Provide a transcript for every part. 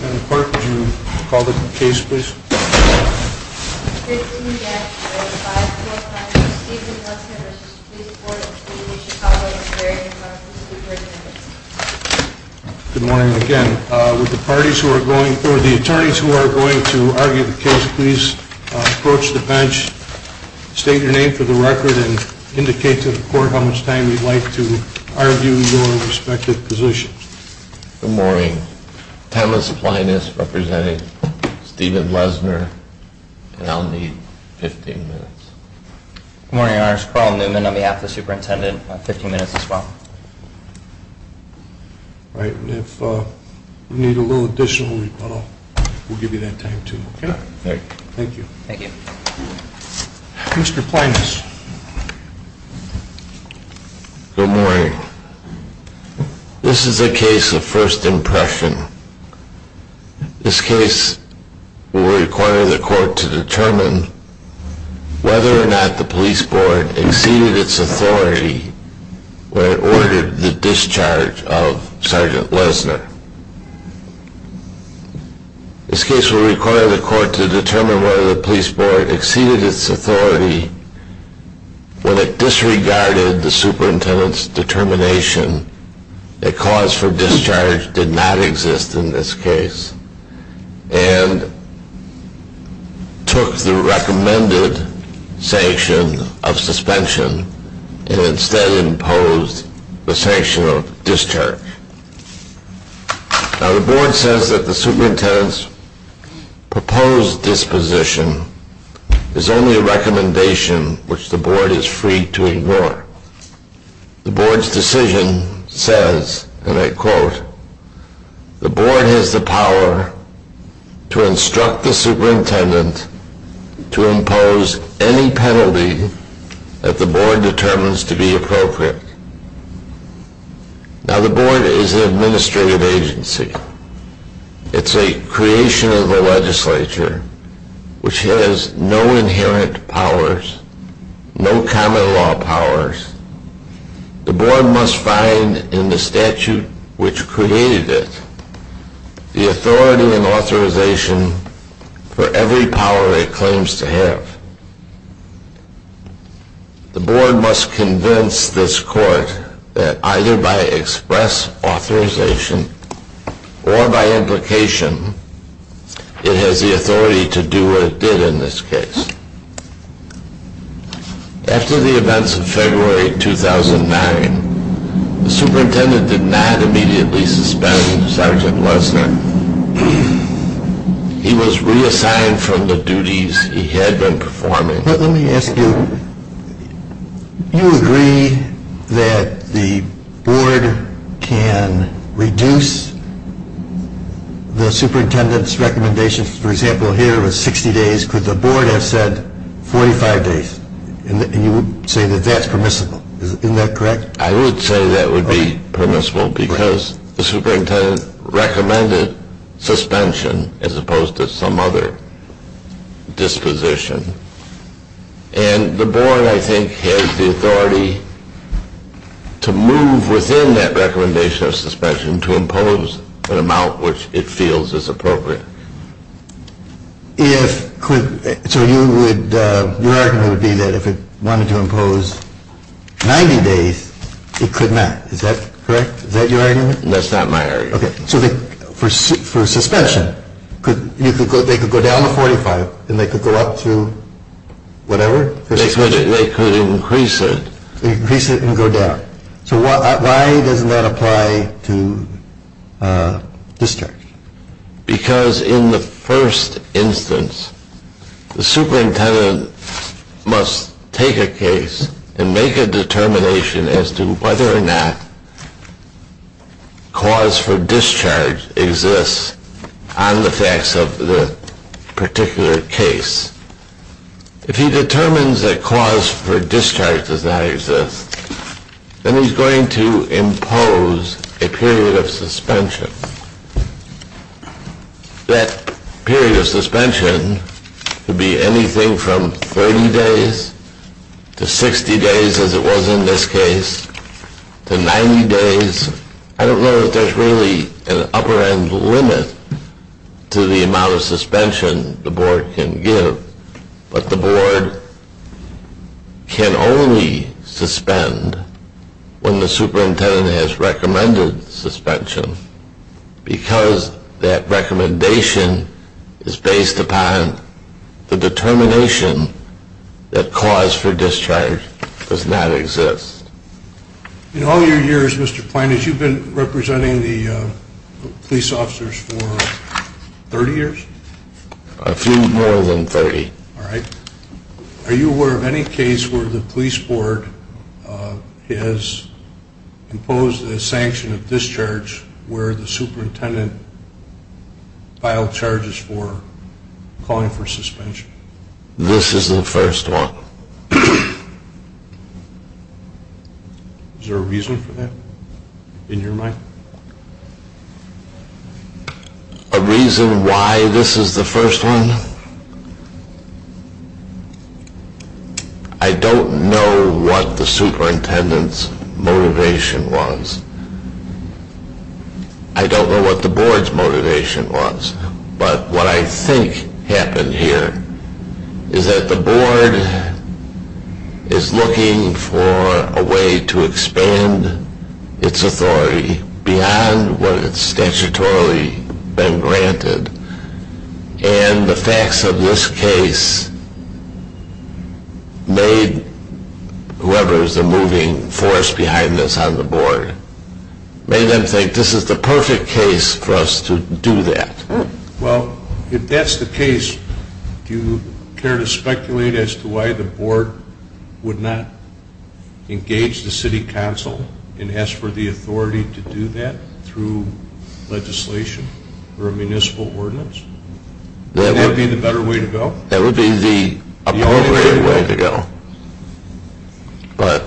Madam Court, would you call the case, please? 15-5, Phil Kline v. Stephen Lesner v. Police Board of City of Chicago, a very important case. Good morning again. Would the attorneys who are going to argue the case please approach the bench, state your name for the record, and indicate to the court how much time you'd like to argue your respective positions. Good morning. Thomas Plinus representing Stephen Lesner, and I'll need 15 minutes. Good morning, Your Honors. Carl Newman on behalf of the superintendent. I'll need 15 minutes as well. All right. And if you need a little additional, we'll give you that time, too. Thank you. Mr. Plinus. Good morning. This is a case of first impression. This case will require the court to determine whether or not the police board exceeded its authority when it ordered the discharge of Sergeant Lesner. This case will require the court to determine whether the police board exceeded its authority when it disregarded the superintendent's determination a cause for discharge did not exist in this case and took the recommended sanction of suspension and instead imposed the sanction of discharge. Now the board says that the superintendent's proposed disposition is only a recommendation which the board is free to ignore. The board's decision says, and I quote, the board has the power to instruct the superintendent to impose any penalty that the board determines to be appropriate. Now the board is an administrative agency. It's a creation of the legislature which has no inherent powers, no common law powers. The board must find in the statute which created it the authority and authorization for every power it claims to have. The board must convince this court that either by express authorization or by implication it has the authority to do what it did in this case. After the events of February 2009, the superintendent did not immediately suspend Sergeant Lesner. He was reassigned from the duties he had been performing. Let me ask you, you agree that the board can reduce the superintendent's recommendation, for example, here it was 60 days. Could the board have said 45 days? And you would say that that's permissible. Isn't that correct? I would say that would be permissible because the superintendent recommended suspension as opposed to some other disposition. And the board, I think, has the authority to move within that recommendation of suspension to impose an amount which it feels is appropriate. So your argument would be that if it wanted to impose 90 days, it could not. Is that correct? Is that your argument? That's not my argument. Okay. So for suspension, they could go down to 45 and they could go up to whatever? They could increase it. Increase it and go down. So why doesn't that apply to discharge? Because in the first instance, the superintendent must take a case and make a determination as to whether or not cause for discharge exists on the facts of the particular case. If he determines that cause for discharge does not exist, then he's going to impose a period of suspension. That period of suspension could be anything from 30 days to 60 days as it was in this case to 90 days. I don't know that there's really an upper end limit to the amount of suspension the board can give. But the board can only suspend when the superintendent has recommended suspension because that recommendation is based upon the determination that cause for discharge does not exist. In all your years, Mr. Plinus, you've been representing the police officers for 30 years? A few more than 30. All right. Are you aware of any case where the police board has imposed a sanction of discharge where the superintendent filed charges for calling for suspension? This is the first one. Is there a reason for that in your mind? A reason why this is the first one? I don't know what the superintendent's motivation was. I don't know what the board's motivation was. But what I think happened here is that the board is looking for a way to expand its authority beyond what it's statutorily been granted. And the facts of this case made whoever is the moving force behind this on the board, made them think this is the perfect case for us to do that. Well, if that's the case, do you care to speculate as to why the board would not engage the city council and ask for the authority to do that through legislation or a municipal ordinance? Would that be the better way to go? That would be the appropriate way to go. But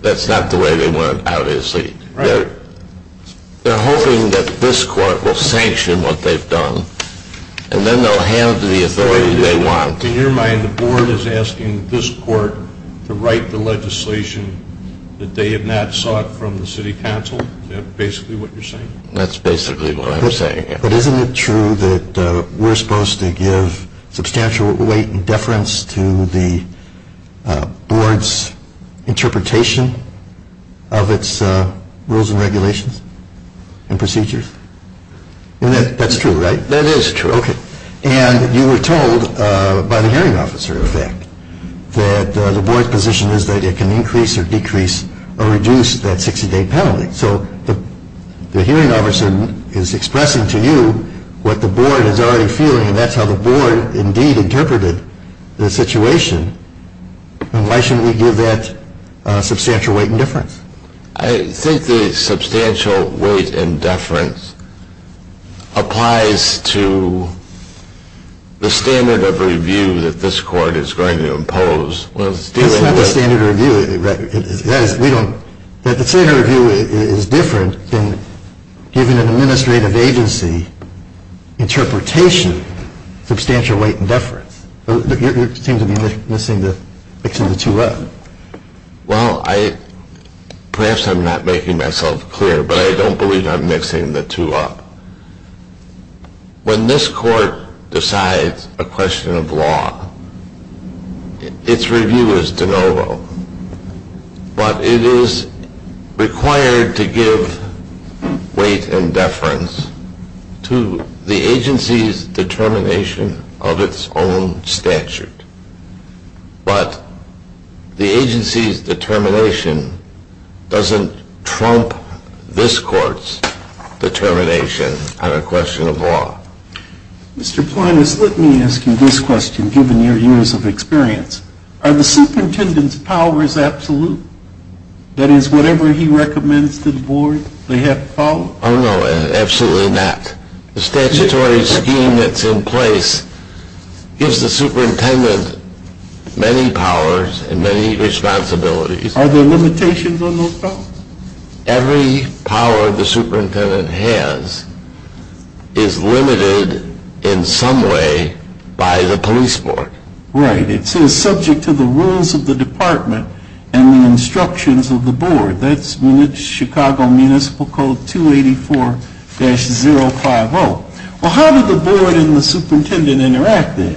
that's not the way they want it, obviously. They're hoping that this court will sanction what they've done, and then they'll have the authority they want. In your mind, the board is asking this court to write the legislation that they have not sought from the city council? Is that basically what you're saying? But isn't it true that we're supposed to give substantial weight and deference to the board's interpretation of its rules and regulations and procedures? That's true, right? That is true. Okay. And you were told by the hearing officer, in fact, that the board's position is that it can increase or decrease or reduce that 60-day penalty. So the hearing officer is expressing to you what the board is already feeling, and that's how the board indeed interpreted the situation. And why shouldn't we give that substantial weight and deference? I think the substantial weight and deference applies to the standard of review that this court is going to impose. That's not the standard of review. The standard of review is different than giving an administrative agency interpretation of substantial weight and deference. You seem to be mixing the two up. Well, perhaps I'm not making myself clear, but I don't believe I'm mixing the two up. When this court decides a question of law, its review is de novo. But it is required to give weight and deference to the agency's determination of its own statute. But the agency's determination doesn't trump this court's determination on a question of law. Mr. Plinus, let me ask you this question, given your years of experience. Are the superintendent's powers absolute? That is, whatever he recommends to the board, they have to follow? Oh, no, absolutely not. The statutory scheme that's in place gives the superintendent many powers and many responsibilities. Are there limitations on those powers? Every power the superintendent has is limited in some way by the police board. Right. It's subject to the rules of the department and the instructions of the board. That's Chicago Municipal Code 284-050. Well, how do the board and the superintendent interact then?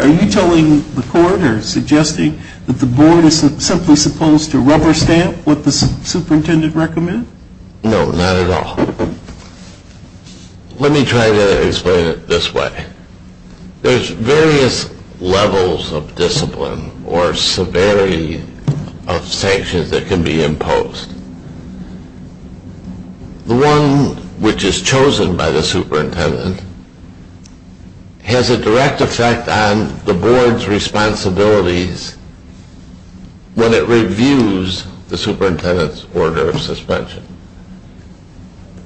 Are you telling the court or suggesting that the board is simply supposed to rubber stamp what the superintendent recommends? No, not at all. Let me try to explain it this way. There's various levels of discipline or severity of sanctions that can be imposed. The one which is chosen by the superintendent has a direct effect on the board's responsibilities when it reviews the superintendent's order of suspension.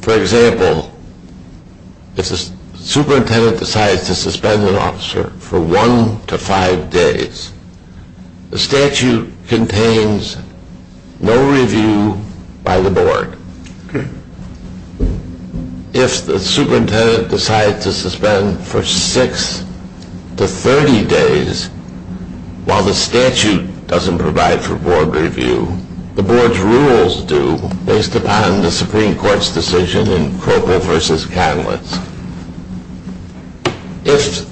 For example, if the superintendent decides to suspend an officer for 1 to 5 days, the statute contains no review by the board. Okay. If the superintendent decides to suspend for 6 to 30 days while the statute doesn't provide for board review, the board's rules do based upon the Supreme Court's decision in Kroepel v. Catalyst. If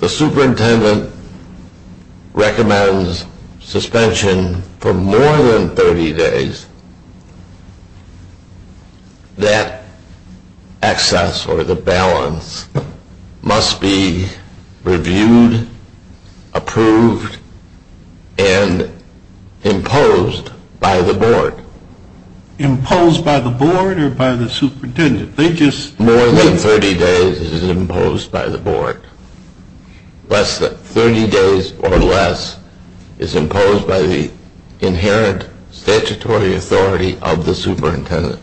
the superintendent recommends suspension for more than 30 days, that access or the balance must be reviewed, approved, and imposed by the board. Imposed by the board or by the superintendent? More than 30 days is imposed by the board. Less than 30 days or less is imposed by the inherent statutory authority of the superintendent.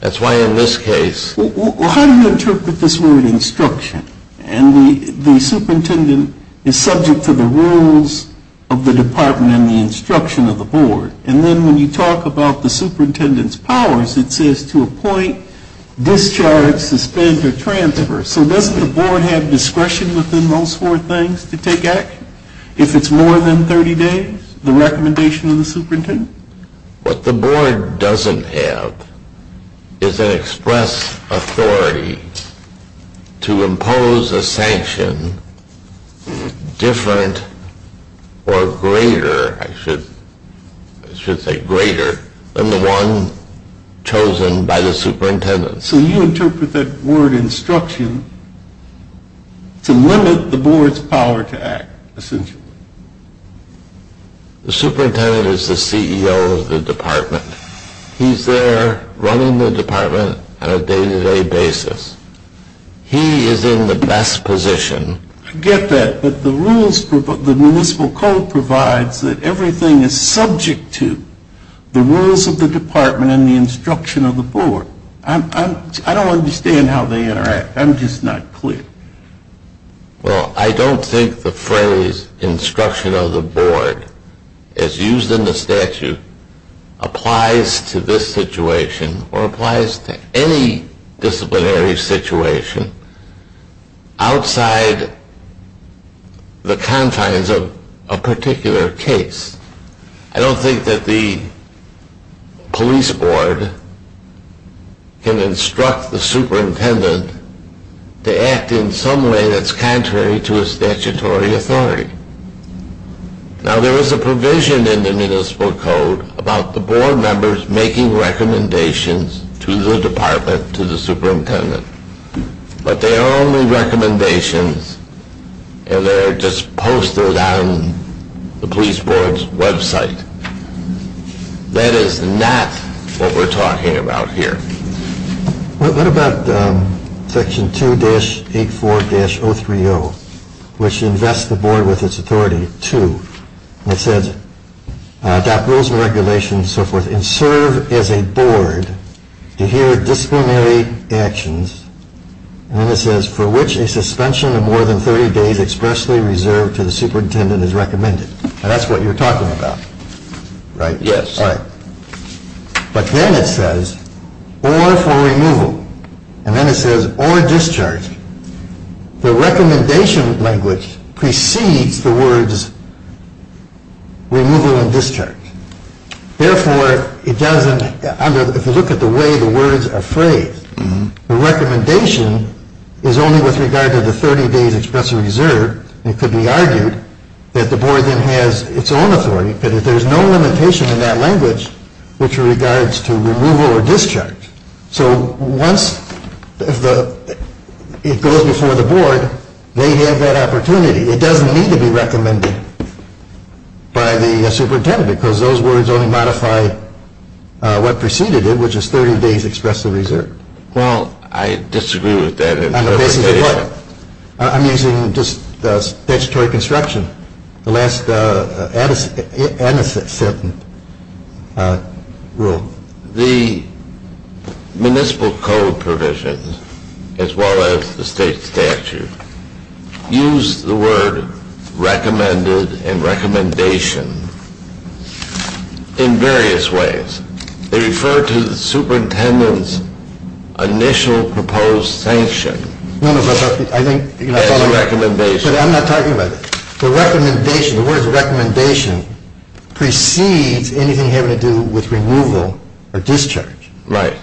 That's why in this case… Well, how do you interpret this word instruction? And the superintendent is subject to the rules of the department and the instruction of the board. And then when you talk about the superintendent's powers, it says to appoint, discharge, suspend, or transfer. So doesn't the board have discretion within those four things to take action? If it's more than 30 days, the recommendation of the superintendent? What the board doesn't have is an express authority to impose a sanction different or greater, I should say greater, than the one chosen by the superintendent. So you interpret that word instruction to limit the board's power to act, essentially. The superintendent is the CEO of the department. He's there running the department on a day-to-day basis. He is in the best position. I get that, but the rules, the municipal code provides that everything is subject to the rules of the department and the instruction of the board. I don't understand how they interact. I'm just not clear. Well, I don't think the phrase instruction of the board, as used in the statute, applies to this situation or applies to any disciplinary situation outside the confines of a particular case. I don't think that the police board can instruct the superintendent to act in some way that's contrary to a statutory authority. Now, there is a provision in the municipal code about the board members making recommendations to the department, to the superintendent. But they're only recommendations and they're just posted on the police board's website. That is not what we're talking about here. What about Section 2-84-030, which invests the board with its authority to, it says, adopt rules and regulations and so forth and serve as a board to hear disciplinary actions. And then it says, for which a suspension of more than 30 days expressly reserved to the superintendent is recommended. Now, that's what you're talking about, right? Yes. All right. But then it says, or for removal. And then it says, or discharge. The recommendation language precedes the words removal and discharge. Therefore, it doesn't, if you look at the way the words are phrased, the recommendation is only with regard to the 30 days expressly reserved. It could be argued that the board then has its own authority. But there's no limitation in that language which regards to removal or discharge. So once it goes before the board, they have that opportunity. It doesn't need to be recommended by the superintendent because those words only modify what preceded it, which is 30 days expressly reserved. Well, I disagree with that. On the basis of what? I'm using just statutory construction. The last sentence rule. The municipal code provisions, as well as the state statute, use the word recommended and recommendation in various ways. They refer to the superintendent's initial proposed sanction as recommendation. But I'm not talking about that. The word recommendation precedes anything having to do with removal or discharge. Right.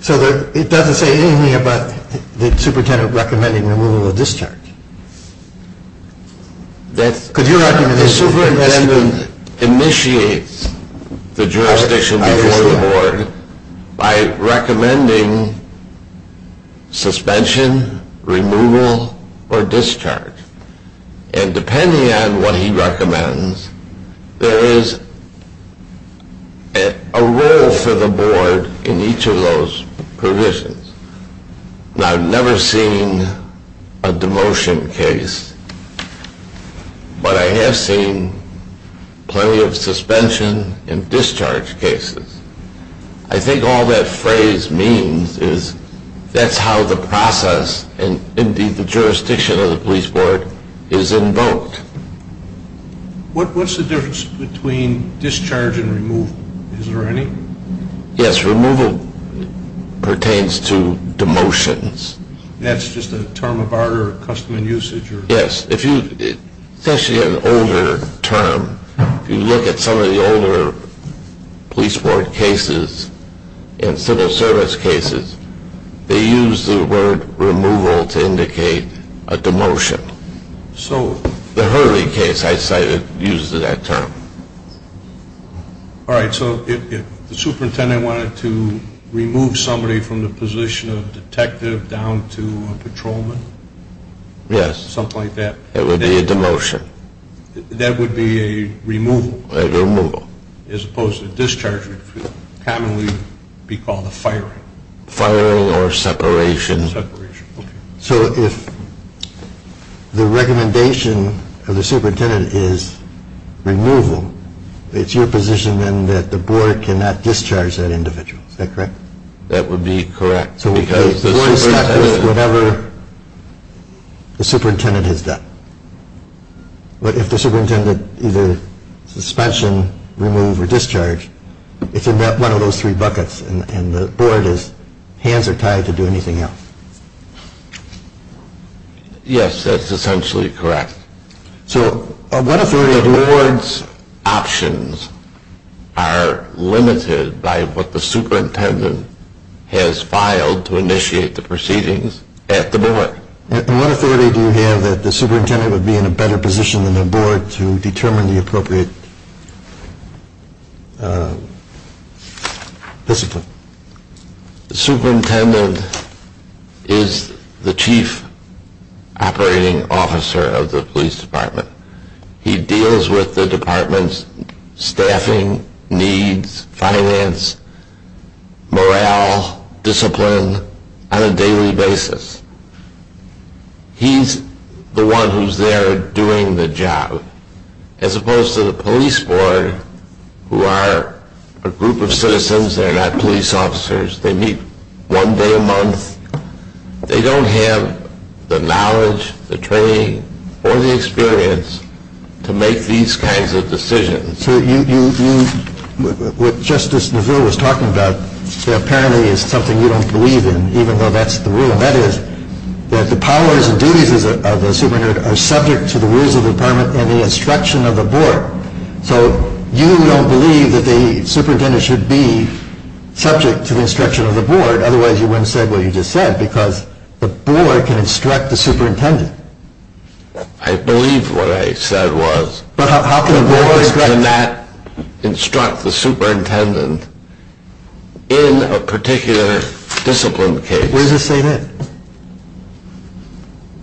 So it doesn't say anything about the superintendent recommending removal or discharge. The superintendent initiates the jurisdiction before the board by recommending suspension, removal, or discharge. And depending on what he recommends, there is a role for the board in each of those provisions. Now, I've never seen a demotion case, but I have seen plenty of suspension and discharge cases. I think all that phrase means is that's how the process and, indeed, the jurisdiction of the police board is invoked. What's the difference between discharge and removal? Is there any? Yes, removal pertains to demotions. That's just a term of order, a custom in usage? Yes. It's actually an older term. If you look at some of the older police board cases and civil service cases, they use the word removal to indicate a demotion. The Hurley case I cited uses that term. All right, so if the superintendent wanted to remove somebody from the position of detective down to a patrolman? Yes. Something like that. It would be a demotion. That would be a removal. A removal. As opposed to discharge, which would commonly be called a firing. Firing or separation. Separation, okay. So if the recommendation of the superintendent is removal, it's your position then that the board cannot discharge that individual. Is that correct? That would be correct. So the board is stuck with whatever the superintendent has done. But if the superintendent either suspension, remove, or discharge, it's in one of those three buckets, and the board is hands are tied to do anything else. Yes, that's essentially correct. So what authority do you have? The board's options are limited by what the superintendent has filed to initiate the proceedings at the board. And what authority do you have that the superintendent would be in a better position than the board to determine the appropriate discipline? The superintendent is the chief operating officer of the police department. He deals with the department's staffing, needs, finance, morale, discipline on a daily basis. He's the one who's there doing the job. As opposed to the police board, who are a group of citizens that are not police officers, they meet one day a month. They don't have the knowledge, the training, or the experience to make these kinds of decisions. So what Justice Neville was talking about apparently is something you don't believe in, even though that's the rule. And that is that the powers and duties of the superintendent are subject to the rules of the department and the instruction of the board. So you don't believe that the superintendent should be subject to the instruction of the board. Otherwise, you wouldn't say what you just said, because the board can instruct the superintendent. I believe what I said was the board cannot instruct the superintendent in a particular discipline case. Where does it say that?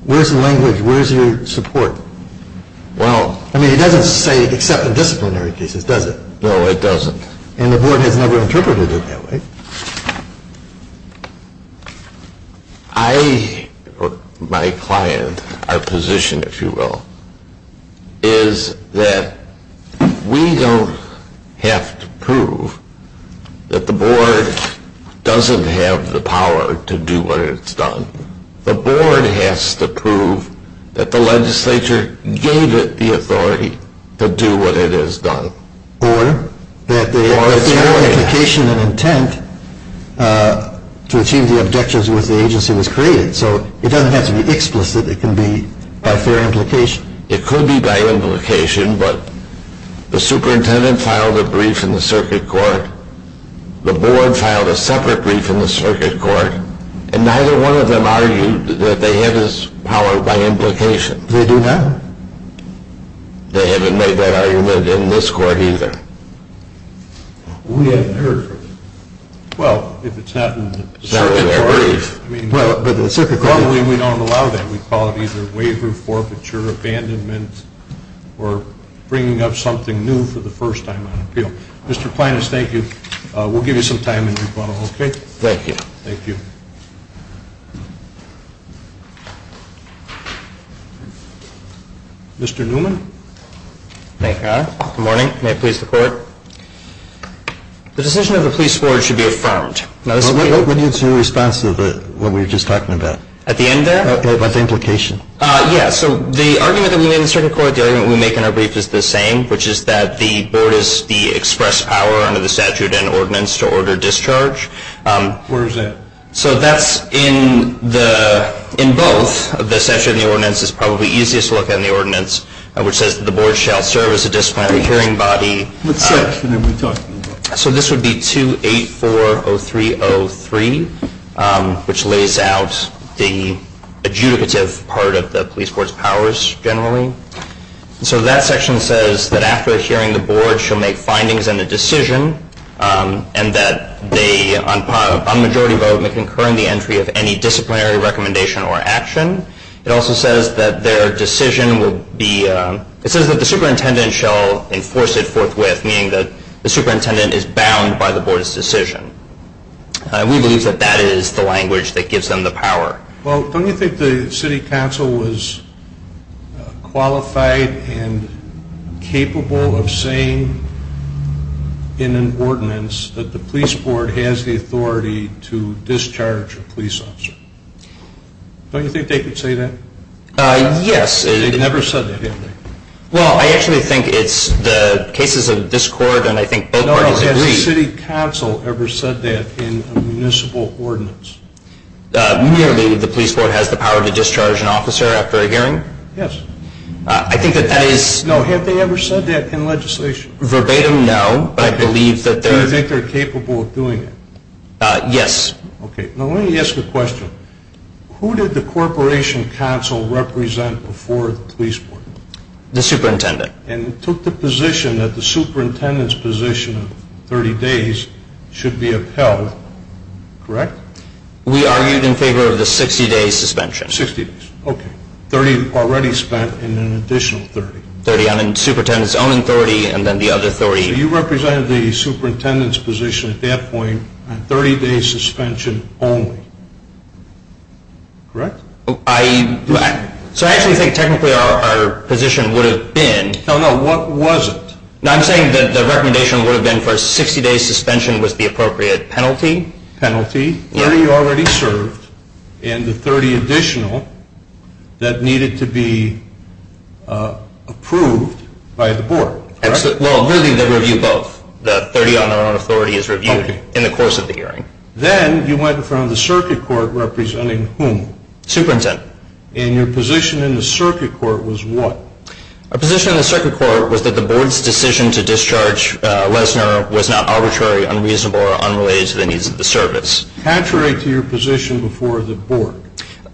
Where's the language? Where's your support? I mean, it doesn't say except in disciplinary cases, does it? No, it doesn't. And the board has never interpreted it that way. My client, our position, if you will, is that we don't have to prove that the board doesn't have the power to do what it's done. The board has to prove that the legislature gave it the authority to do what it has done. Or that the fair implication and intent to achieve the objectives with the agency was created. So it doesn't have to be explicit. It can be by fair implication. It could be by implication, but the superintendent filed a brief in the circuit court. The board filed a separate brief in the circuit court. And neither one of them argued that they had this power by implication. They do not. They haven't made that argument in this court either. We haven't heard from them. Well, if it's not in the circuit court. It's not in their brief. I mean, normally we don't allow that. We call it either waiver, forfeiture, abandonment, or bringing up something new for the first time on appeal. Mr. Planus, thank you. We'll give you some time in your funnel, okay? Thank you. Thank you. Mr. Newman. Thank you, Your Honor. Good morning. May it please the court. The decision of the police board should be affirmed. What is your response to what we were just talking about? At the end there? What's the implication? Yeah, so the argument that we made in the circuit court, the argument we make in our brief is the same, which is that the board is the express power under the statute and ordinance to order discharge. Where is that? So that's in both. The statute and the ordinance is probably easiest to look at in the ordinance, which says that the board shall serve as a disciplinary hearing body. What section are we talking about? So this would be 2840303, which lays out the adjudicative part of the police board's powers generally. So that section says that after hearing the board shall make findings and a decision and that they, on majority vote, may concur in the entry of any disciplinary recommendation or action. It also says that their decision will be, it says that the superintendent shall enforce it forthwith, meaning that the superintendent is bound by the board's decision. We believe that that is the language that gives them the power. Well, don't you think the city council was qualified and capable of saying in an ordinance that the police board has the authority to discharge a police officer? Don't you think they could say that? Yes. They've never said that, have they? Well, I actually think it's the cases of this court and I think both parties agree. Has the city council ever said that in a municipal ordinance? Merely, the police board has the power to discharge an officer after a hearing? Yes. I think that that is... No, have they ever said that in legislation? Verbatim, no, but I believe that they're... Do you think they're capable of doing it? Yes. Okay, now let me ask you a question. Who did the corporation council represent before the police board? The superintendent. And it took the position that the superintendent's position of 30 days should be upheld, correct? We argued in favor of the 60-day suspension. 60 days, okay, 30 already spent and then an additional 30. 30 on the superintendent's own authority and then the other 30... So you represented the superintendent's position at that point on 30-day suspension only, correct? So I actually think technically our position would have been... No, no, what was it? I'm saying that the recommendation would have been for a 60-day suspension was the appropriate penalty. Penalty, 30 already served and the 30 additional that needed to be approved by the board, correct? Well, really they review both. The 30 on their own authority is reviewed in the course of the hearing. Then you went in front of the circuit court representing whom? Superintendent. And your position in the circuit court was what? Our position in the circuit court was that the board's decision to discharge Lesner was not arbitrary, unreasonable, or unrelated to the needs of the service. Contrary to your position before the board.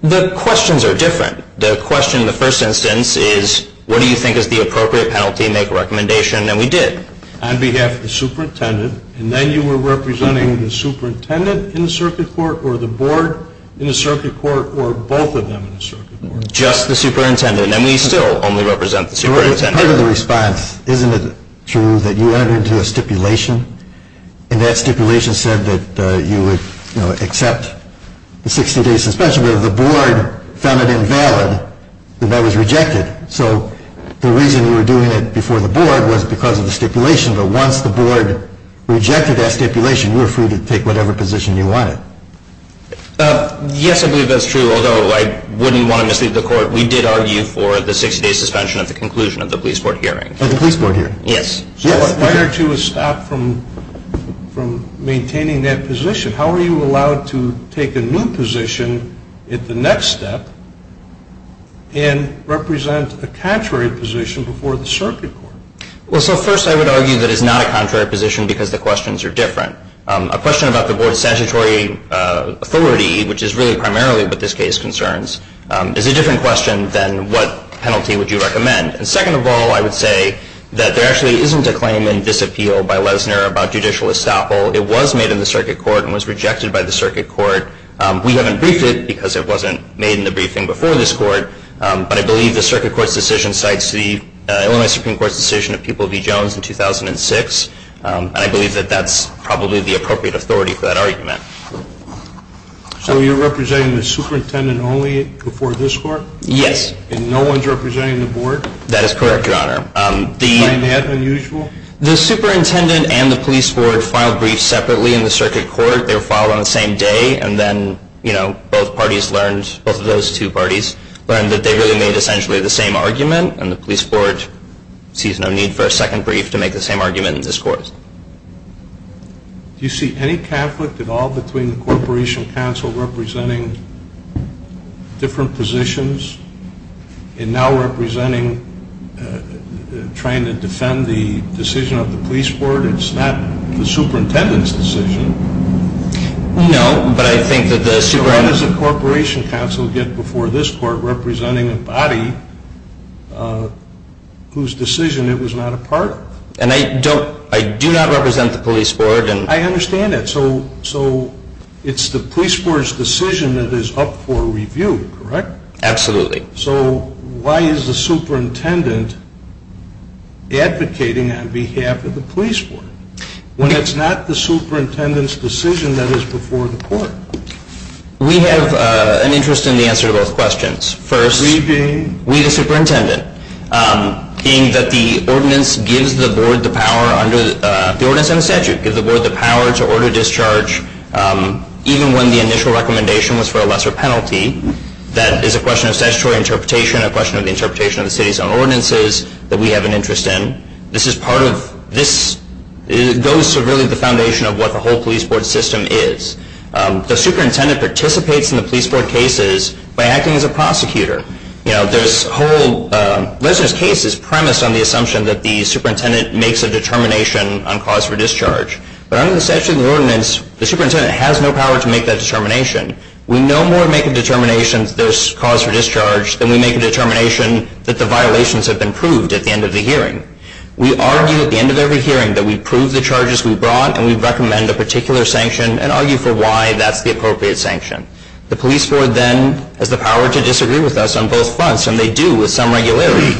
The questions are different. The question in the first instance is what do you think is the appropriate penalty, make a recommendation, and we did. On behalf of the superintendent. And then you were representing the superintendent in the circuit court or the board in the circuit court or both of them in the circuit court? Just the superintendent. And we still only represent the superintendent. Part of the response, isn't it true that you entered into a stipulation? And that stipulation said that you would accept the 60-day suspension, but the board found it invalid and that was rejected. So the reason you were doing it before the board was because of the stipulation. But once the board rejected that stipulation, you were free to take whatever position you wanted. Yes, I believe that's true, although I wouldn't want to mislead the court. We did argue for the 60-day suspension at the conclusion of the police board hearing. At the police board hearing? Yes. So what led you to stop from maintaining that position? How are you allowed to take a new position at the next step and represent a contrary position before the circuit court? Well, so first I would argue that it's not a contrary position because the questions are different. A question about the board's statutory authority, which is really primarily what this case concerns, is a different question than what penalty would you recommend. And second of all, I would say that there actually isn't a claim in this appeal by Lesner about judicial estoppel. It was made in the circuit court and was rejected by the circuit court. We haven't briefed it because it wasn't made in the briefing before this court, but I believe the circuit court's decision cites the Illinois Supreme Court's decision of People v. Jones in 2006. And I believe that that's probably the appropriate authority for that argument. So you're representing the superintendent only before this court? Yes. And no one's representing the board? That is correct, Your Honor. Is that unusual? The superintendent and the police board filed briefs separately in the circuit court. They were filed on the same day, and then both parties learned, both of those two parties, learned that they really made essentially the same argument, and the police board sees no need for a second brief to make the same argument in this court. Do you see any conflict at all between the corporation council representing different positions and now representing trying to defend the decision of the police board? It's not the superintendent's decision. No, but I think that the superintendent... ...whose decision it was not a part of. And I do not represent the police board. I understand that. So it's the police board's decision that is up for review, correct? Absolutely. So why is the superintendent advocating on behalf of the police board when it's not the superintendent's decision that is before the court? We have an interest in the answer to both questions. First, we the superintendent, being that the ordinance gives the board the power under the ordinance and the statute, gives the board the power to order discharge even when the initial recommendation was for a lesser penalty. That is a question of statutory interpretation, a question of the interpretation of the city's own ordinances that we have an interest in. This goes to really the foundation of what the whole police board system is. The superintendent participates in the police board cases by acting as a prosecutor. This whole case is premised on the assumption that the superintendent makes a determination on cause for discharge. But under the statute of the ordinance, the superintendent has no power to make that determination. We no more make a determination that there's cause for discharge than we make a determination that the violations have been proved at the end of the hearing. We argue at the end of every hearing that we prove the charges we brought and we recommend a particular sanction and argue for why that's the appropriate sanction. The police board then has the power to disagree with us on both fronts, and they do with some regularity.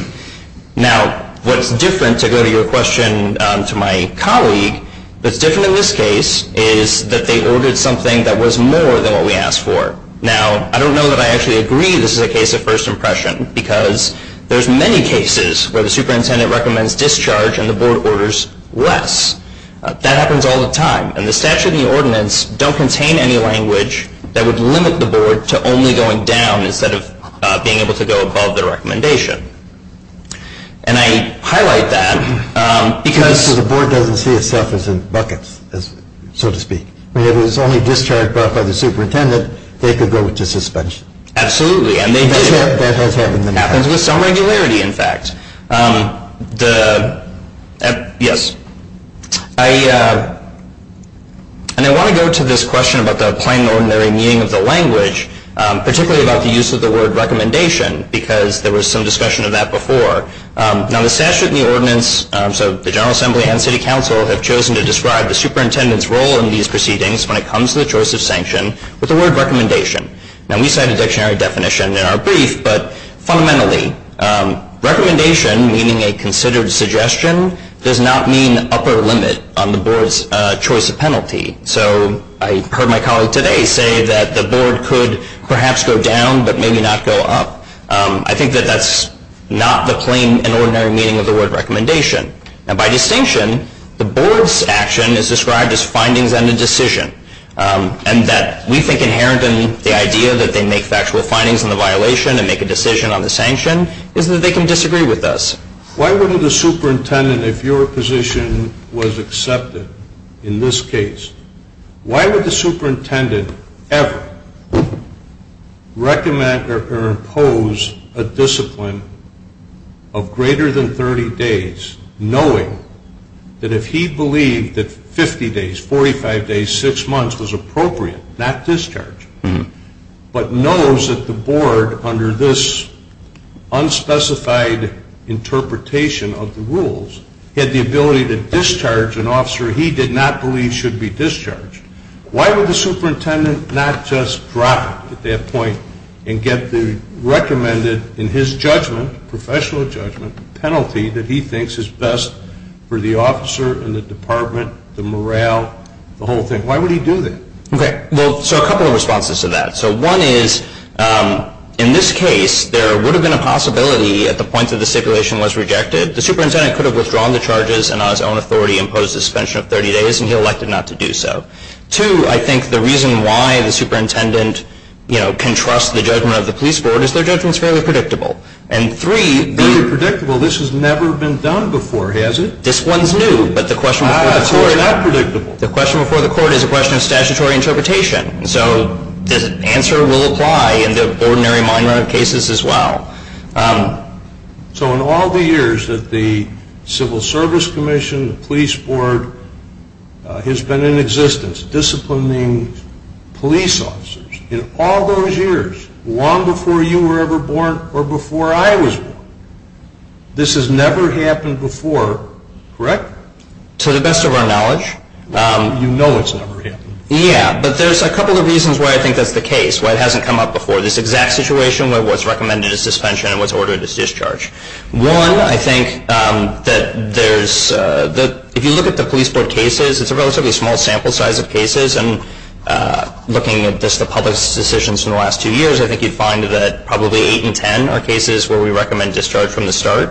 Now, what's different, to go to your question to my colleague, what's different in this case is that they ordered something that was more than what we asked for. Now, I don't know that I actually agree this is a case of first impression because there's many cases where the superintendent recommends discharge and the board orders less. That happens all the time, and the statute and the ordinance don't contain any language that would limit the board to only going down instead of being able to go above the recommendation. And I highlight that because... So the board doesn't see itself as in buckets, so to speak. If it was only discharged by the superintendent, they could go into suspension. Absolutely, and they do. That has happened many times. It happens with some regularity, in fact. Yes. And I want to go to this question about the plain and ordinary meaning of the language, particularly about the use of the word recommendation, because there was some discussion of that before. Now, the statute and the ordinance, so the General Assembly and City Council, have chosen to describe the superintendent's role in these proceedings when it comes to the choice of sanction with the word recommendation. Now, we cite a dictionary definition in our brief, but fundamentally, recommendation, meaning a considered suggestion, does not mean upper limit on the board's choice of penalty. So I heard my colleague today say that the board could perhaps go down, but maybe not go up. I think that that's not the plain and ordinary meaning of the word recommendation. And by distinction, the board's action is described as findings and a decision, and that we think inherent in the idea that they make factual findings on the violation and make a decision on the sanction is that they can disagree with us. Why wouldn't the superintendent, if your position was accepted in this case, why would the superintendent ever recommend or impose a discipline of greater than 30 days, knowing that if he believed that 50 days, 45 days, 6 months was appropriate, not discharge, but knows that the board, under this unspecified interpretation of the rules, had the ability to discharge an officer he did not believe should be discharged, why would the superintendent not just drop it at that point and get the recommended, in his judgment, professional judgment, penalty that he thinks is best for the officer and the department, the morale, the whole thing? Why would he do that? Okay. Well, so a couple of responses to that. So one is, in this case, there would have been a possibility at the point that the stipulation was rejected, the superintendent could have withdrawn the charges and on his own authority imposed a suspension of 30 days, and he elected not to do so. Two, I think the reason why the superintendent can trust the judgment of the police board is their judgment is fairly predictable. And three... Fairly predictable? This has never been done before, has it? This one's new, but the question before the court... Ah, so it's not predictable. The question before the court is a question of statutory interpretation. So the answer will apply in the ordinary mine run cases as well. So in all the years that the Civil Service Commission, the police board has been in existence, disciplining police officers, in all those years, long before you were ever born or before I was born, this has never happened before, correct? To the best of our knowledge. You know it's never happened. Yeah, but there's a couple of reasons why I think that's the case, why it hasn't come up before. This exact situation where what's recommended is suspension and what's ordered is discharge. One, I think that there's... If you look at the police board cases, it's a relatively small sample size of cases, and looking at just the public's decisions in the last two years, I think you'd find that probably eight in ten are cases where we recommend discharge from the start.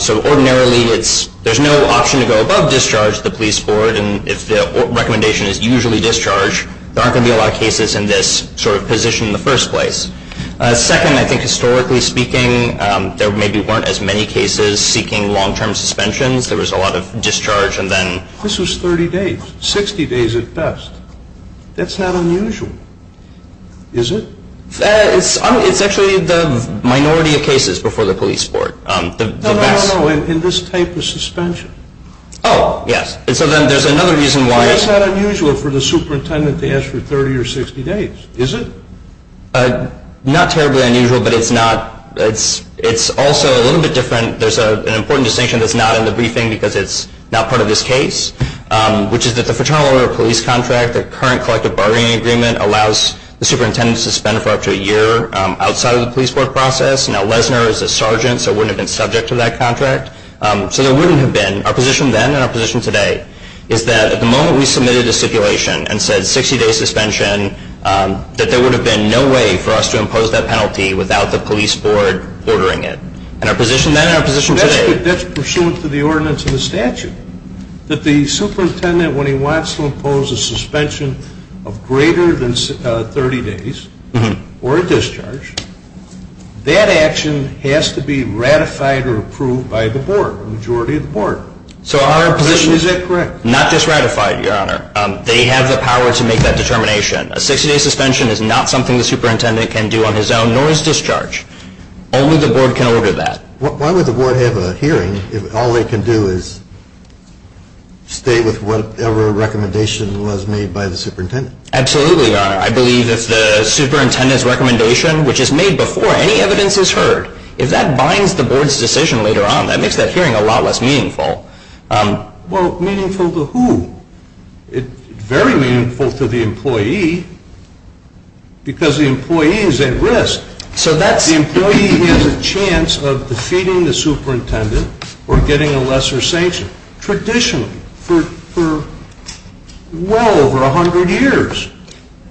So ordinarily, there's no option to go above discharge to the police board, and if the recommendation is usually discharge, there aren't going to be a lot of cases in this sort of position in the first place. Second, I think historically speaking, there maybe weren't as many cases seeking long-term suspensions. There was a lot of discharge and then... This was 30 days, 60 days at best. That's not unusual, is it? It's actually the minority of cases before the police board. No, no, no, in this type of suspension. Oh, yes. And so then there's another reason why... It's not unusual for the superintendent to ask for 30 or 60 days, is it? Not terribly unusual, but it's not... It's also a little bit different. There's an important distinction that's not in the briefing because it's not part of this case, which is that the Fraternal Order of Police contract, the current collective bargaining agreement, allows the superintendent to suspend for up to a year outside of the police board process. Now, Lesnar is a sergeant, so he wouldn't have been subject to that contract. So there wouldn't have been... Our position then and our position today is that at the moment we submitted a stipulation and said 60-day suspension, that there would have been no way for us to impose that penalty without the police board ordering it. And our position then and our position today... That's pursuant to the ordinance of the statute, that the superintendent, when he wants to impose a suspension of greater than 30 days or a discharge, that action has to be ratified or approved by the board, the majority of the board. So our position... Our position, is that correct? Not just ratified, Your Honor. They have the power to make that determination. A 60-day suspension is not something the superintendent can do on his own, nor is discharge. Only the board can order that. Why would the board have a hearing if all they can do is stay with whatever recommendation was made by the superintendent? Absolutely, Your Honor. I believe if the superintendent's recommendation, which is made before any evidence is heard, if that binds the board's decision later on, that makes that hearing a lot less meaningful. Well, meaningful to who? It's very meaningful to the employee because the employee is at risk. So that's... The employee has a chance of defeating the superintendent or getting a lesser sanction. Traditionally, for well over 100 years,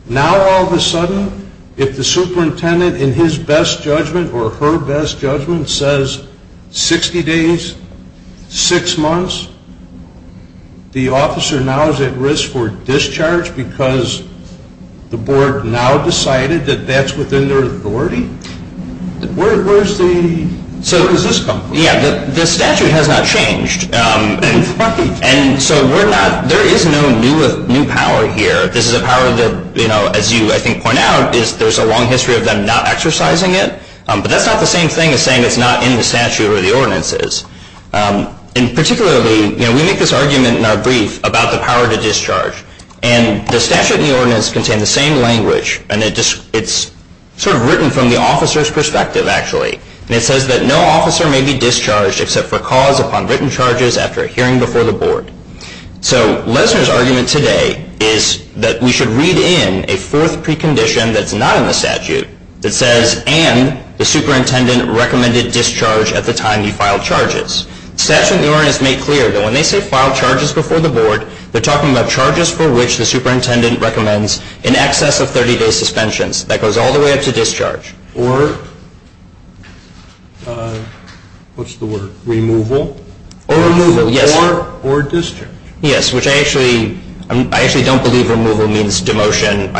now all of a sudden, if the superintendent, in his best judgment or her best judgment, says 60 days, 6 months, the officer now is at risk for discharge because the board now decided that that's within their authority? Where does this come from? Yeah, the statute has not changed. And so there is no new power here. This is a power that, as you, I think, point out, there's a long history of them not exercising it. But that's not the same thing as saying it's not in the statute or the ordinances. And particularly, we make this argument in our brief about the power to discharge. And the statute and the ordinance contain the same language. And it's sort of written from the officer's perspective, actually. And it says that no officer may be discharged except for cause upon written charges after a hearing before the board. So Lesner's argument today is that we should read in a fourth precondition that's not in the statute that says, and the superintendent recommended discharge at the time you filed charges. The statute and the ordinance make clear that when they say file charges before the board, they're talking about charges for which the superintendent recommends in excess of 30-day suspensions. That goes all the way up to discharge. Or what's the word? Removal? Or removal, yes. Or discharge. Yes, which I actually don't believe removal means demotion.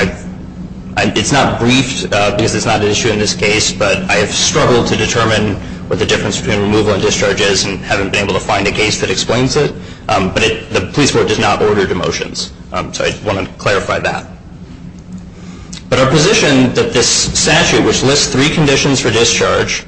It's not briefed because it's not an issue in this case. But I have struggled to determine what the difference between removal and discharge is and haven't been able to find a case that explains it. But the police board does not order demotions. So I want to clarify that. But our position that this statute, which lists three conditions for discharge,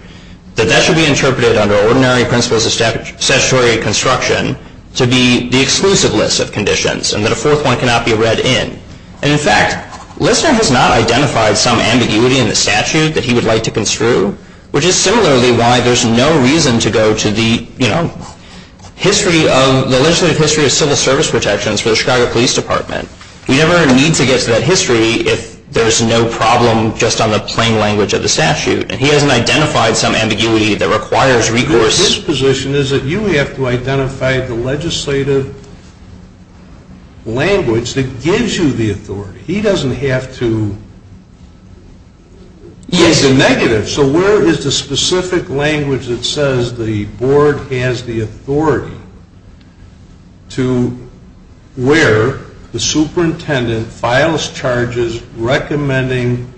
that that should be interpreted under ordinary principles of statutory construction to be the exclusive list of conditions and that a fourth one cannot be read in. And, in fact, Lesner has not identified some ambiguity in the statute that he would like to construe, which is similarly why there's no reason to go to the legislative history of civil service protections for the Chicago Police Department. We never need to get to that history if there's no problem just on the plain language of the statute. And he hasn't identified some ambiguity that requires recourse. But his position is that you have to identify the legislative language that gives you the authority. He doesn't have to say the negative. So where is the specific language that says the board has the authority to where the superintendent files charges recommending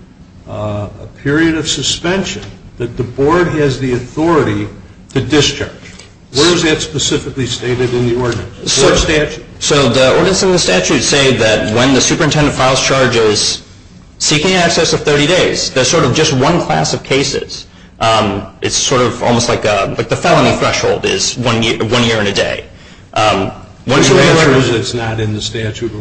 a period of suspension that the board has the authority to discharge? Where is that specifically stated in the ordinance? So the ordinance and the statute say that when the superintendent files charges, seeking access of 30 days, that's sort of just one class of cases. It's sort of almost like the felony threshold is one year and a day. Which means it's not in the statute.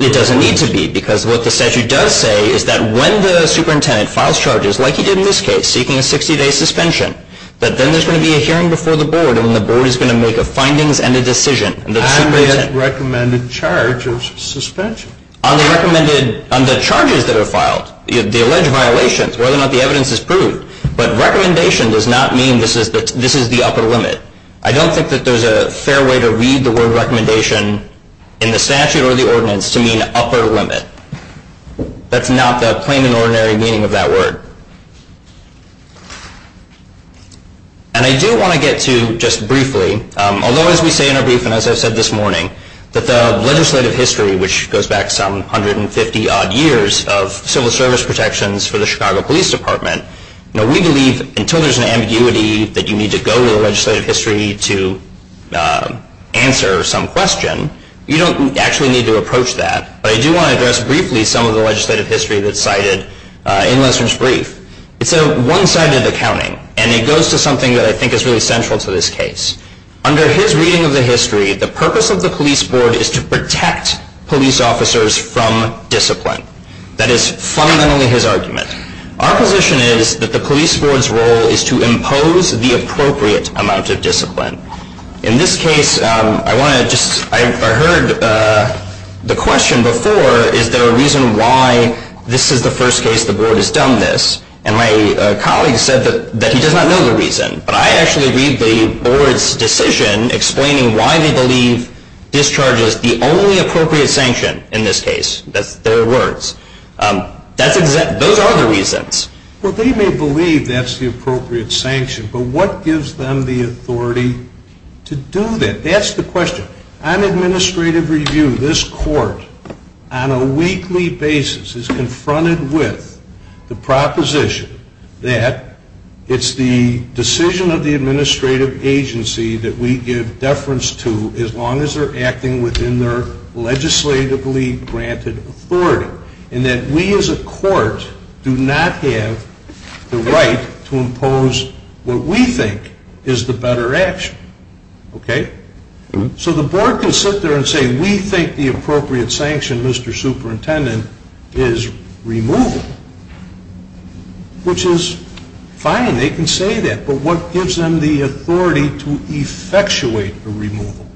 It doesn't need to be because what the statute does say is that when the superintendent files charges, like he did in this case, seeking a 60-day suspension, that then there's going to be a hearing before the board and the board is going to make a findings and a decision. On the recommended charge of suspension. On the charges that are filed, the alleged violations, whether or not the evidence is proved. But recommendation does not mean this is the upper limit. I don't think that there's a fair way to read the word recommendation in the statute or the ordinance to mean upper limit. That's not the plain and ordinary meaning of that word. And I do want to get to just briefly, although as we say in our briefing, as I've said this morning, that the legislative history, which goes back some 150 odd years of civil service protections for the Chicago Police Department, we believe until there's an ambiguity that you need to go to the legislative history to answer some question, you don't actually need to approach that. But I do want to address briefly some of the legislative history that's cited in Lester's brief. It's a one-sided accounting. And it goes to something that I think is really central to this case. Under his reading of the history, the purpose of the police board is to protect police officers from discipline. That is fundamentally his argument. Our position is that the police board's role is to impose the appropriate amount of discipline. In this case, I heard the question before, is there a reason why this is the first case the board has done this? And my colleague said that he does not know the reason. But I actually read the board's decision explaining why they believe discharge is the only appropriate sanction in this case. That's their words. Those are the reasons. Well, they may believe that's the appropriate sanction, but what gives them the authority to do that? That's the question. On administrative review, this court on a weekly basis is confronted with the proposition that it's the decision of the administrative agency that we give deference to as long as they're acting within their legislatively granted authority. And that we as a court do not have the right to impose what we think is the better action. Okay? So the board can sit there and say we think the appropriate sanction, Mr. Superintendent, is removal, which is fine. They can say that. But what gives them the authority to effectuate a removal?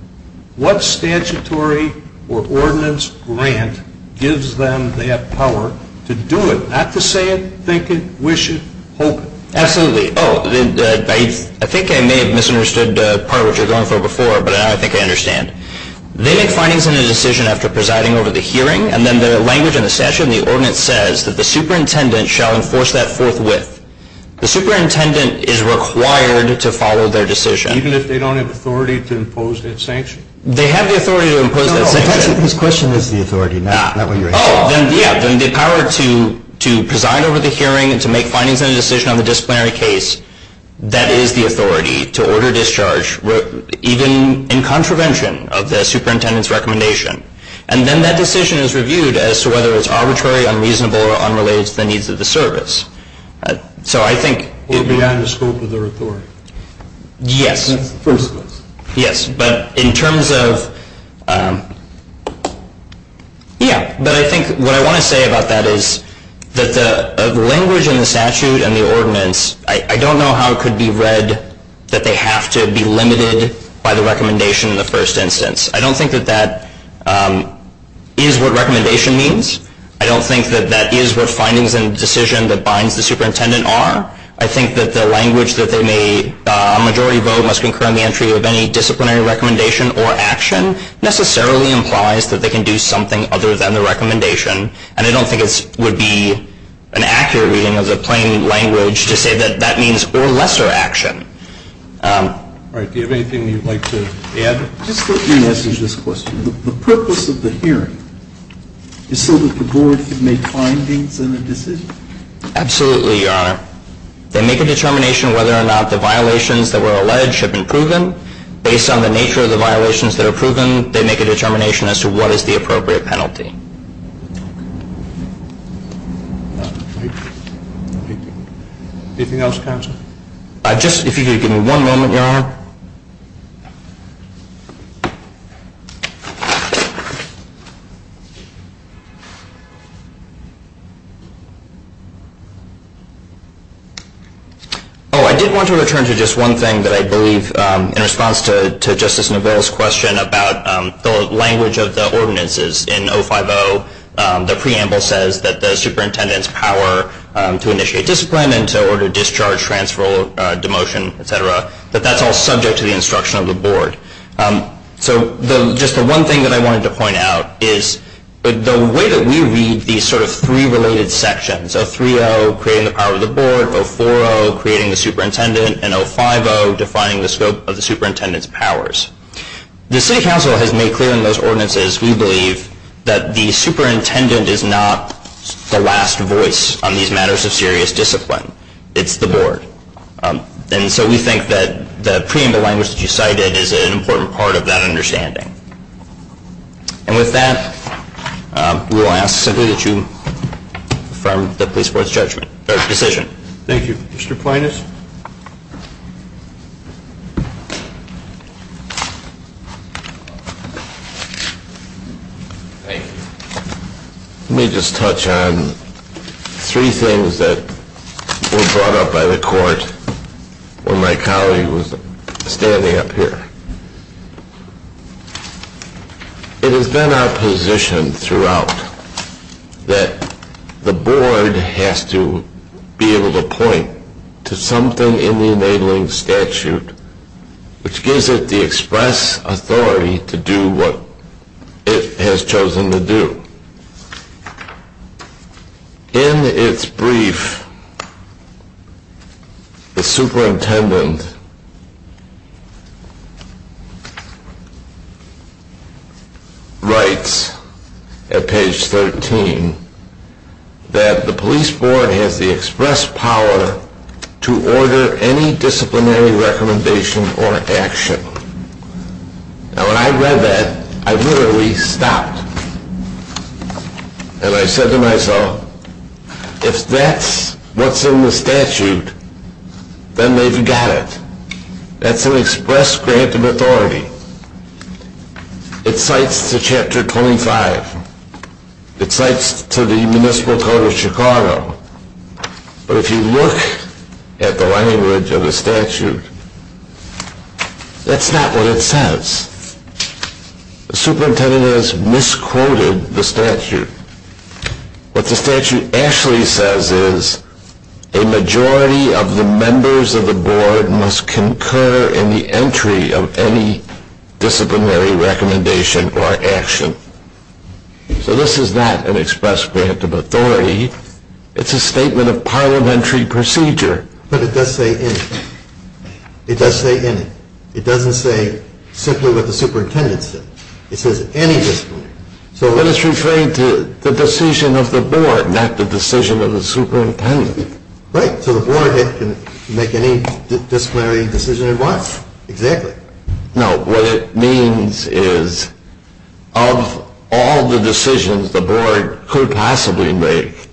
What statutory or ordinance grant gives them that power to do it? Not to say it, think it, wish it, hope it. Absolutely. Oh, I think I may have misunderstood part of what you were going for before, but now I think I understand. They make findings in a decision after presiding over the hearing, and then the language in the statute and the ordinance says that the superintendent shall enforce that forthwith. The superintendent is required to follow their decision. Even if they don't have authority to impose that sanction? They have the authority to impose that sanction. No, no, his question is the authority, not what you're asking. Oh, yeah, then the power to preside over the hearing and to make findings in a decision on the disciplinary case, that is the authority to order discharge even in contravention of the superintendent's recommendation. And then that decision is reviewed as to whether it's arbitrary, unreasonable, or unrelated to the needs of the service. So I think... Or beyond the scope of their authority. Yes. That's the first question. Yes, but in terms of... Yeah, but I think what I want to say about that is that the language in the statute and the ordinance, I don't know how it could be read that they have to be limited by the recommendation in the first instance. I don't think that that is what recommendation means. I don't think that that is what findings in the decision that binds the superintendent are. I think that the language that they may, a majority vote must concur in the entry of any disciplinary recommendation or action necessarily implies that they can do something other than the recommendation, and I don't think it would be an accurate reading of the plain language to say that that means or lesser action. All right, do you have anything you'd like to add? Just let me answer this question. The purpose of the hearing is so that the board can make findings in a decision? Absolutely, Your Honor. They make a determination whether or not the violations that were alleged have been proven. Based on the nature of the violations that are proven, they make a determination as to what is the appropriate penalty. Anything else, counsel? Just if you could give me one moment, Your Honor. Oh, I did want to return to just one thing that I believe in response to Justice Neville's question about the language of the ordinances. In 050, the preamble says that the superintendent's power to initiate discipline and to order discharge, transfer, demotion, et cetera, that that's all subject to the instruction of the board. So just the one thing that I wanted to point out is the way that we read these sort of three related sections, 030, creating the power of the board, 040, creating the superintendent, and 050, defining the scope of the superintendent's powers. The city council has made clear in those ordinances, we believe, that the superintendent is not the last voice on these matters of serious discipline. It's the board. And so we think that the preamble language that you cited is an important part of that understanding. And with that, we will ask simply that you affirm the police board's judgment, or decision. Thank you. Mr. Plinus? Thank you. Let me just touch on three things that were brought up by the court when my colleague was standing up here. It has been our position throughout that the board has to be able to point to something in the enabling statute which gives it the express authority to do what it has chosen to do. In its brief, the superintendent writes at page 13 that the police board has the express power to order any disciplinary recommendation or action. Now, when I read that, I literally stopped. And I said to myself, if that's what's in the statute, then they've got it. It cites to Chapter 25. It cites to the Municipal Code of Chicago. But if you look at the language of the statute, that's not what it says. The superintendent has misquoted the statute. What the statute actually says is, a majority of the members of the board must concur in the entry of any disciplinary recommendation or action. So this is not an express grant of authority. It's a statement of parliamentary procedure. But it does say any. It does say any. It doesn't say simply what the superintendent said. It says any disciplinary. So let us refer to the decision of the board, not the decision of the superintendent. Right. So the board can make any disciplinary decision it wants. Exactly. No. What it means is, of all the decisions the board could possibly make,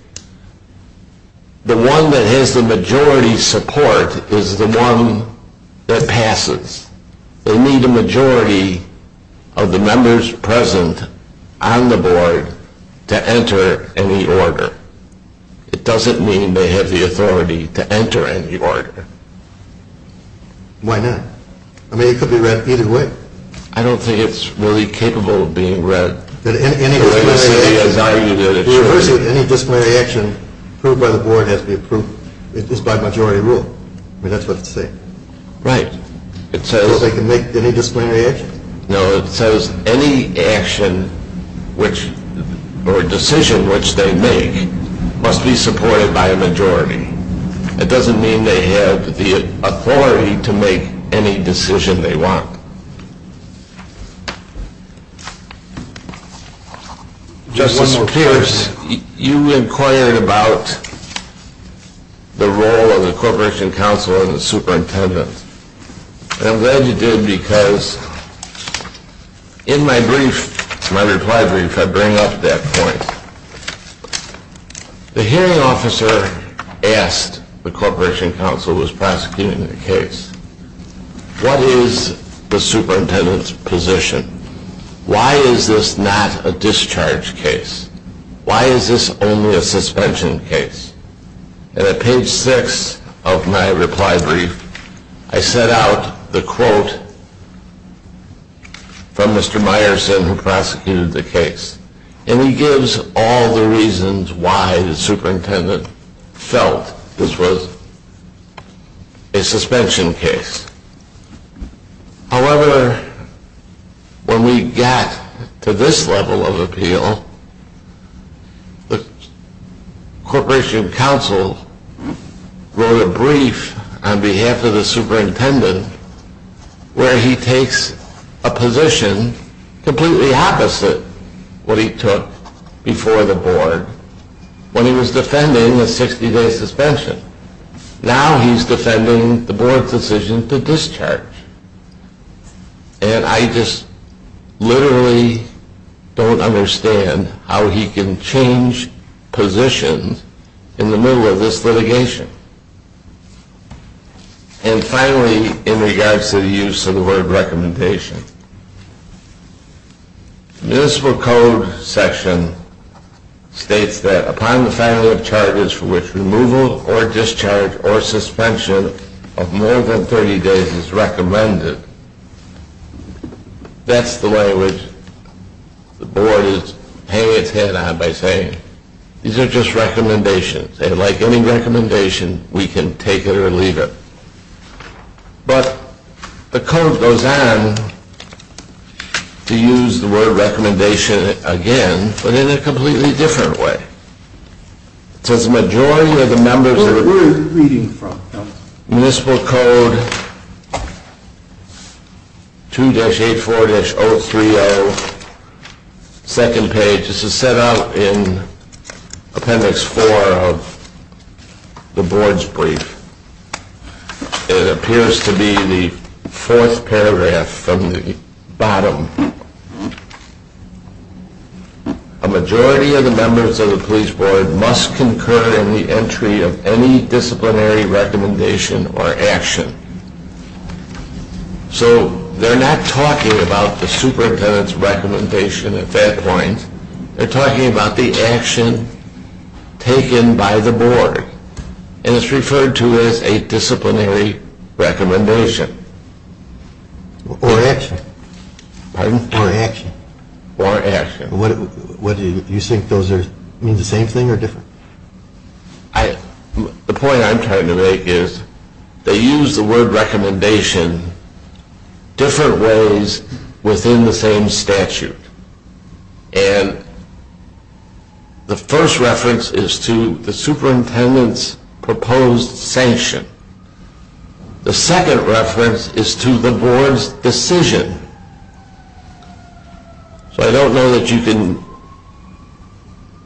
the one that has the majority support is the one that passes. They need a majority of the members present on the board to enter any order. It doesn't mean they have the authority to enter any order. Why not? I mean, it could be read either way. I don't think it's really capable of being read the way the city has argued it should be. The reversing of any disciplinary action approved by the board is by majority rule. I mean, that's what it's saying. Right. It says... They can make any disciplinary action? No. It says any action or decision which they make must be supported by a majority. It doesn't mean they have the authority to make any decision they want. Justice Pierce, you inquired about the role of the Corporation Council and the superintendent. And I'm glad you did because in my brief, my reply brief, I bring up that point. The hearing officer asked the Corporation Council who was prosecuting the case, what is the superintendent's position? Why is this not a discharge case? Why is this only a suspension case? And at page 6 of my reply brief, I set out the quote from Mr. Meyerson who prosecuted the case. And he gives all the reasons why the superintendent felt this was a suspension case. However, when we got to this level of appeal, the Corporation Council wrote a brief on behalf of the superintendent where he takes a position completely opposite what he took before the board when he was defending a 60-day suspension. Now he's defending the board's decision to discharge. And I just literally don't understand how he can change positions in the middle of this litigation. And finally, in regards to the use of the word recommendation, the Municipal Code section states that upon the family of charges for which removal or discharge or suspension of more than 30 days is recommended, that's the language the board is hanging its head on by saying these are just recommendations. And like any recommendation, we can take it or leave it. But the code goes on to use the word recommendation again, but in a completely different way. It says the majority of the members of the Municipal Code 2-84-030, second page. This is set out in Appendix 4 of the board's brief. It appears to be the fourth paragraph from the bottom. A majority of the members of the police board must concur in the entry of any disciplinary recommendation or action. So they're not talking about the superintendent's recommendation at that point. They're talking about the action taken by the board. And it's referred to as a disciplinary recommendation. Or action. Pardon? Or action. Or action. Do you think those mean the same thing or different? The point I'm trying to make is they use the word recommendation different ways within the same statute. And the first reference is to the superintendent's proposed sanction. The second reference is to the board's decision. So I don't know that you can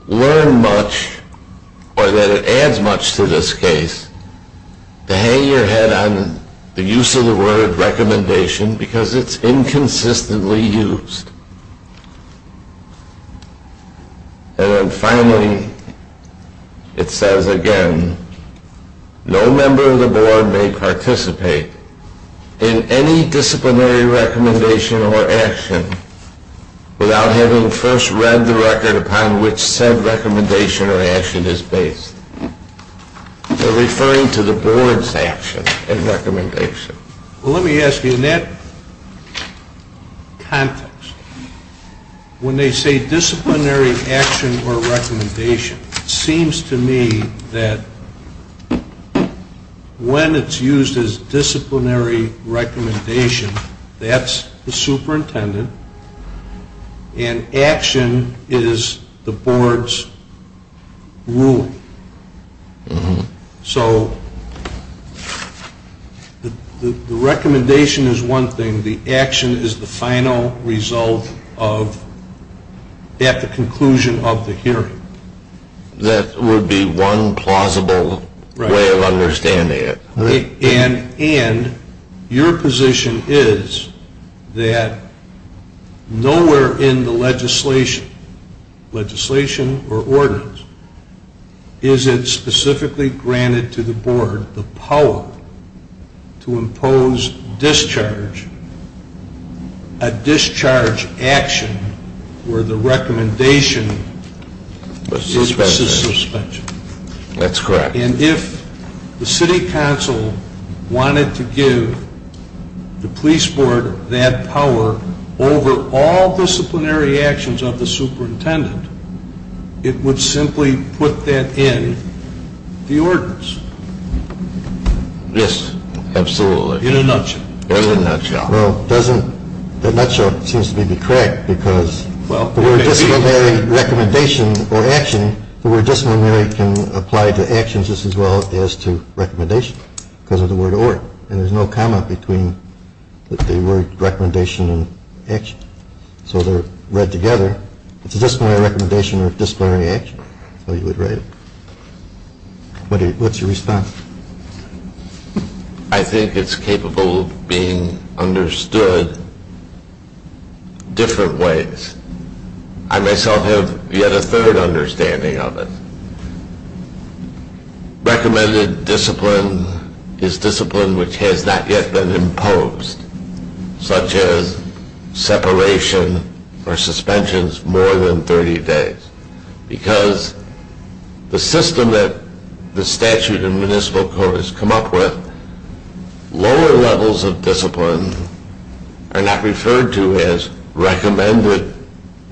learn much or that it adds much to this case to hang your head on the use of the word recommendation because it's inconsistently used. And then finally, it says again, no member of the board may participate in any disciplinary recommendation or action without having first read the record upon which said recommendation or action is based. They're referring to the board's action and recommendation. Well, let me ask you, in that context, when they say disciplinary action or recommendation, it seems to me that when it's used as disciplinary recommendation, that's the superintendent. And action is the board's ruling. So the recommendation is one thing. The action is the final result of at the conclusion of the hearing. That would be one plausible way of understanding it. And your position is that nowhere in the legislation, legislation or ordinance, is it specifically granted to the board the power to impose discharge, a discharge action where the recommendation is suspension. That's correct. And if the city council wanted to give the police board that power over all disciplinary actions of the superintendent, it would simply put that in the ordinance. Yes, absolutely. In a nutshell. In a nutshell. The nutshell seems to be correct because the word disciplinary recommendation or action, the word disciplinary can apply to actions just as well as to recommendation because of the word order. And there's no comment between the word recommendation and action. So they're read together. It's a disciplinary recommendation or disciplinary action. That's how you would write it. What's your response? I think it's capable of being understood different ways. I myself have yet a third understanding of it. Recommended discipline is discipline which has not yet been imposed, such as separation or suspensions more than 30 days. Because the system that the statute and municipal court has come up with, lower levels of discipline are not referred to as recommended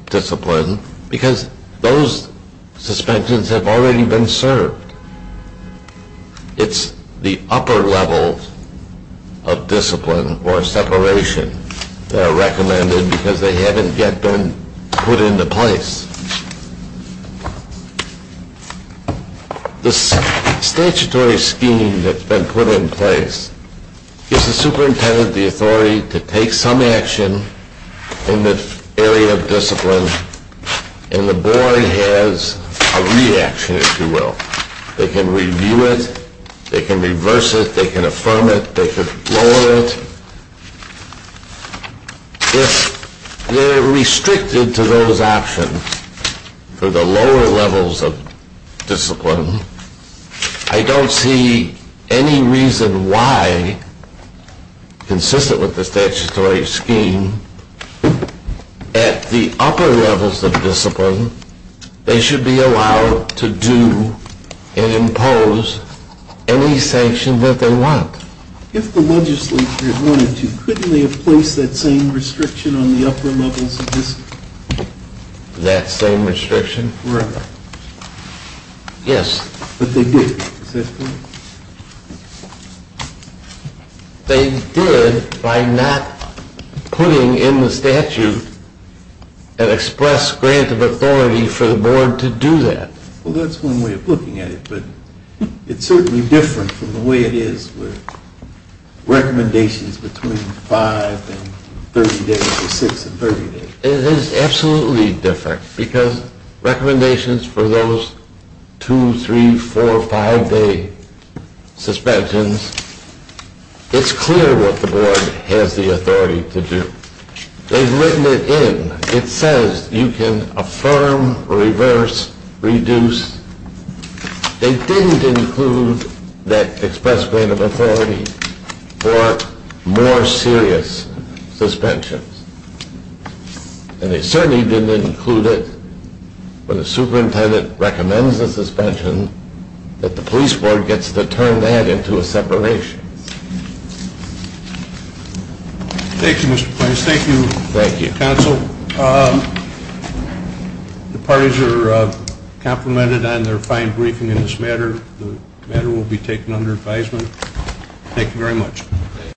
discipline because those suspensions have already been served. It's the upper level of discipline or separation that are recommended because they haven't yet been put into place. The statutory scheme that's been put in place gives the superintendent the authority to take some action in the area of discipline and the board has a reaction, if you will. They can review it. They can reverse it. They can affirm it. They can lower it. If they're restricted to those options for the lower levels of discipline, I don't see any reason why, consistent with the statutory scheme, at the upper levels of discipline they should be allowed to do and impose any sanction that they want. If the legislature wanted to, couldn't they have placed that same restriction on the upper levels of discipline? That same restriction? Correct. Yes. But they didn't, is that correct? They did by not putting in the statute an express grant of authority for the board to do that. Well, that's one way of looking at it, but it's certainly different from the way it is with recommendations between 5 and 30 days or 6 and 30 days. It is absolutely different because recommendations for those 2, 3, 4, 5-day suspensions, it's clear what the board has the authority to do. They've written it in. It says you can affirm, reverse, reduce. They didn't include that express grant of authority for more serious suspensions. And they certainly didn't include it when the superintendent recommends a suspension that the police board gets to turn that into a separation. Thank you, Mr. Pines. Thank you, counsel. The parties are complimented on their fine briefing in this matter. The matter will be taken under advisement. Thank you very much.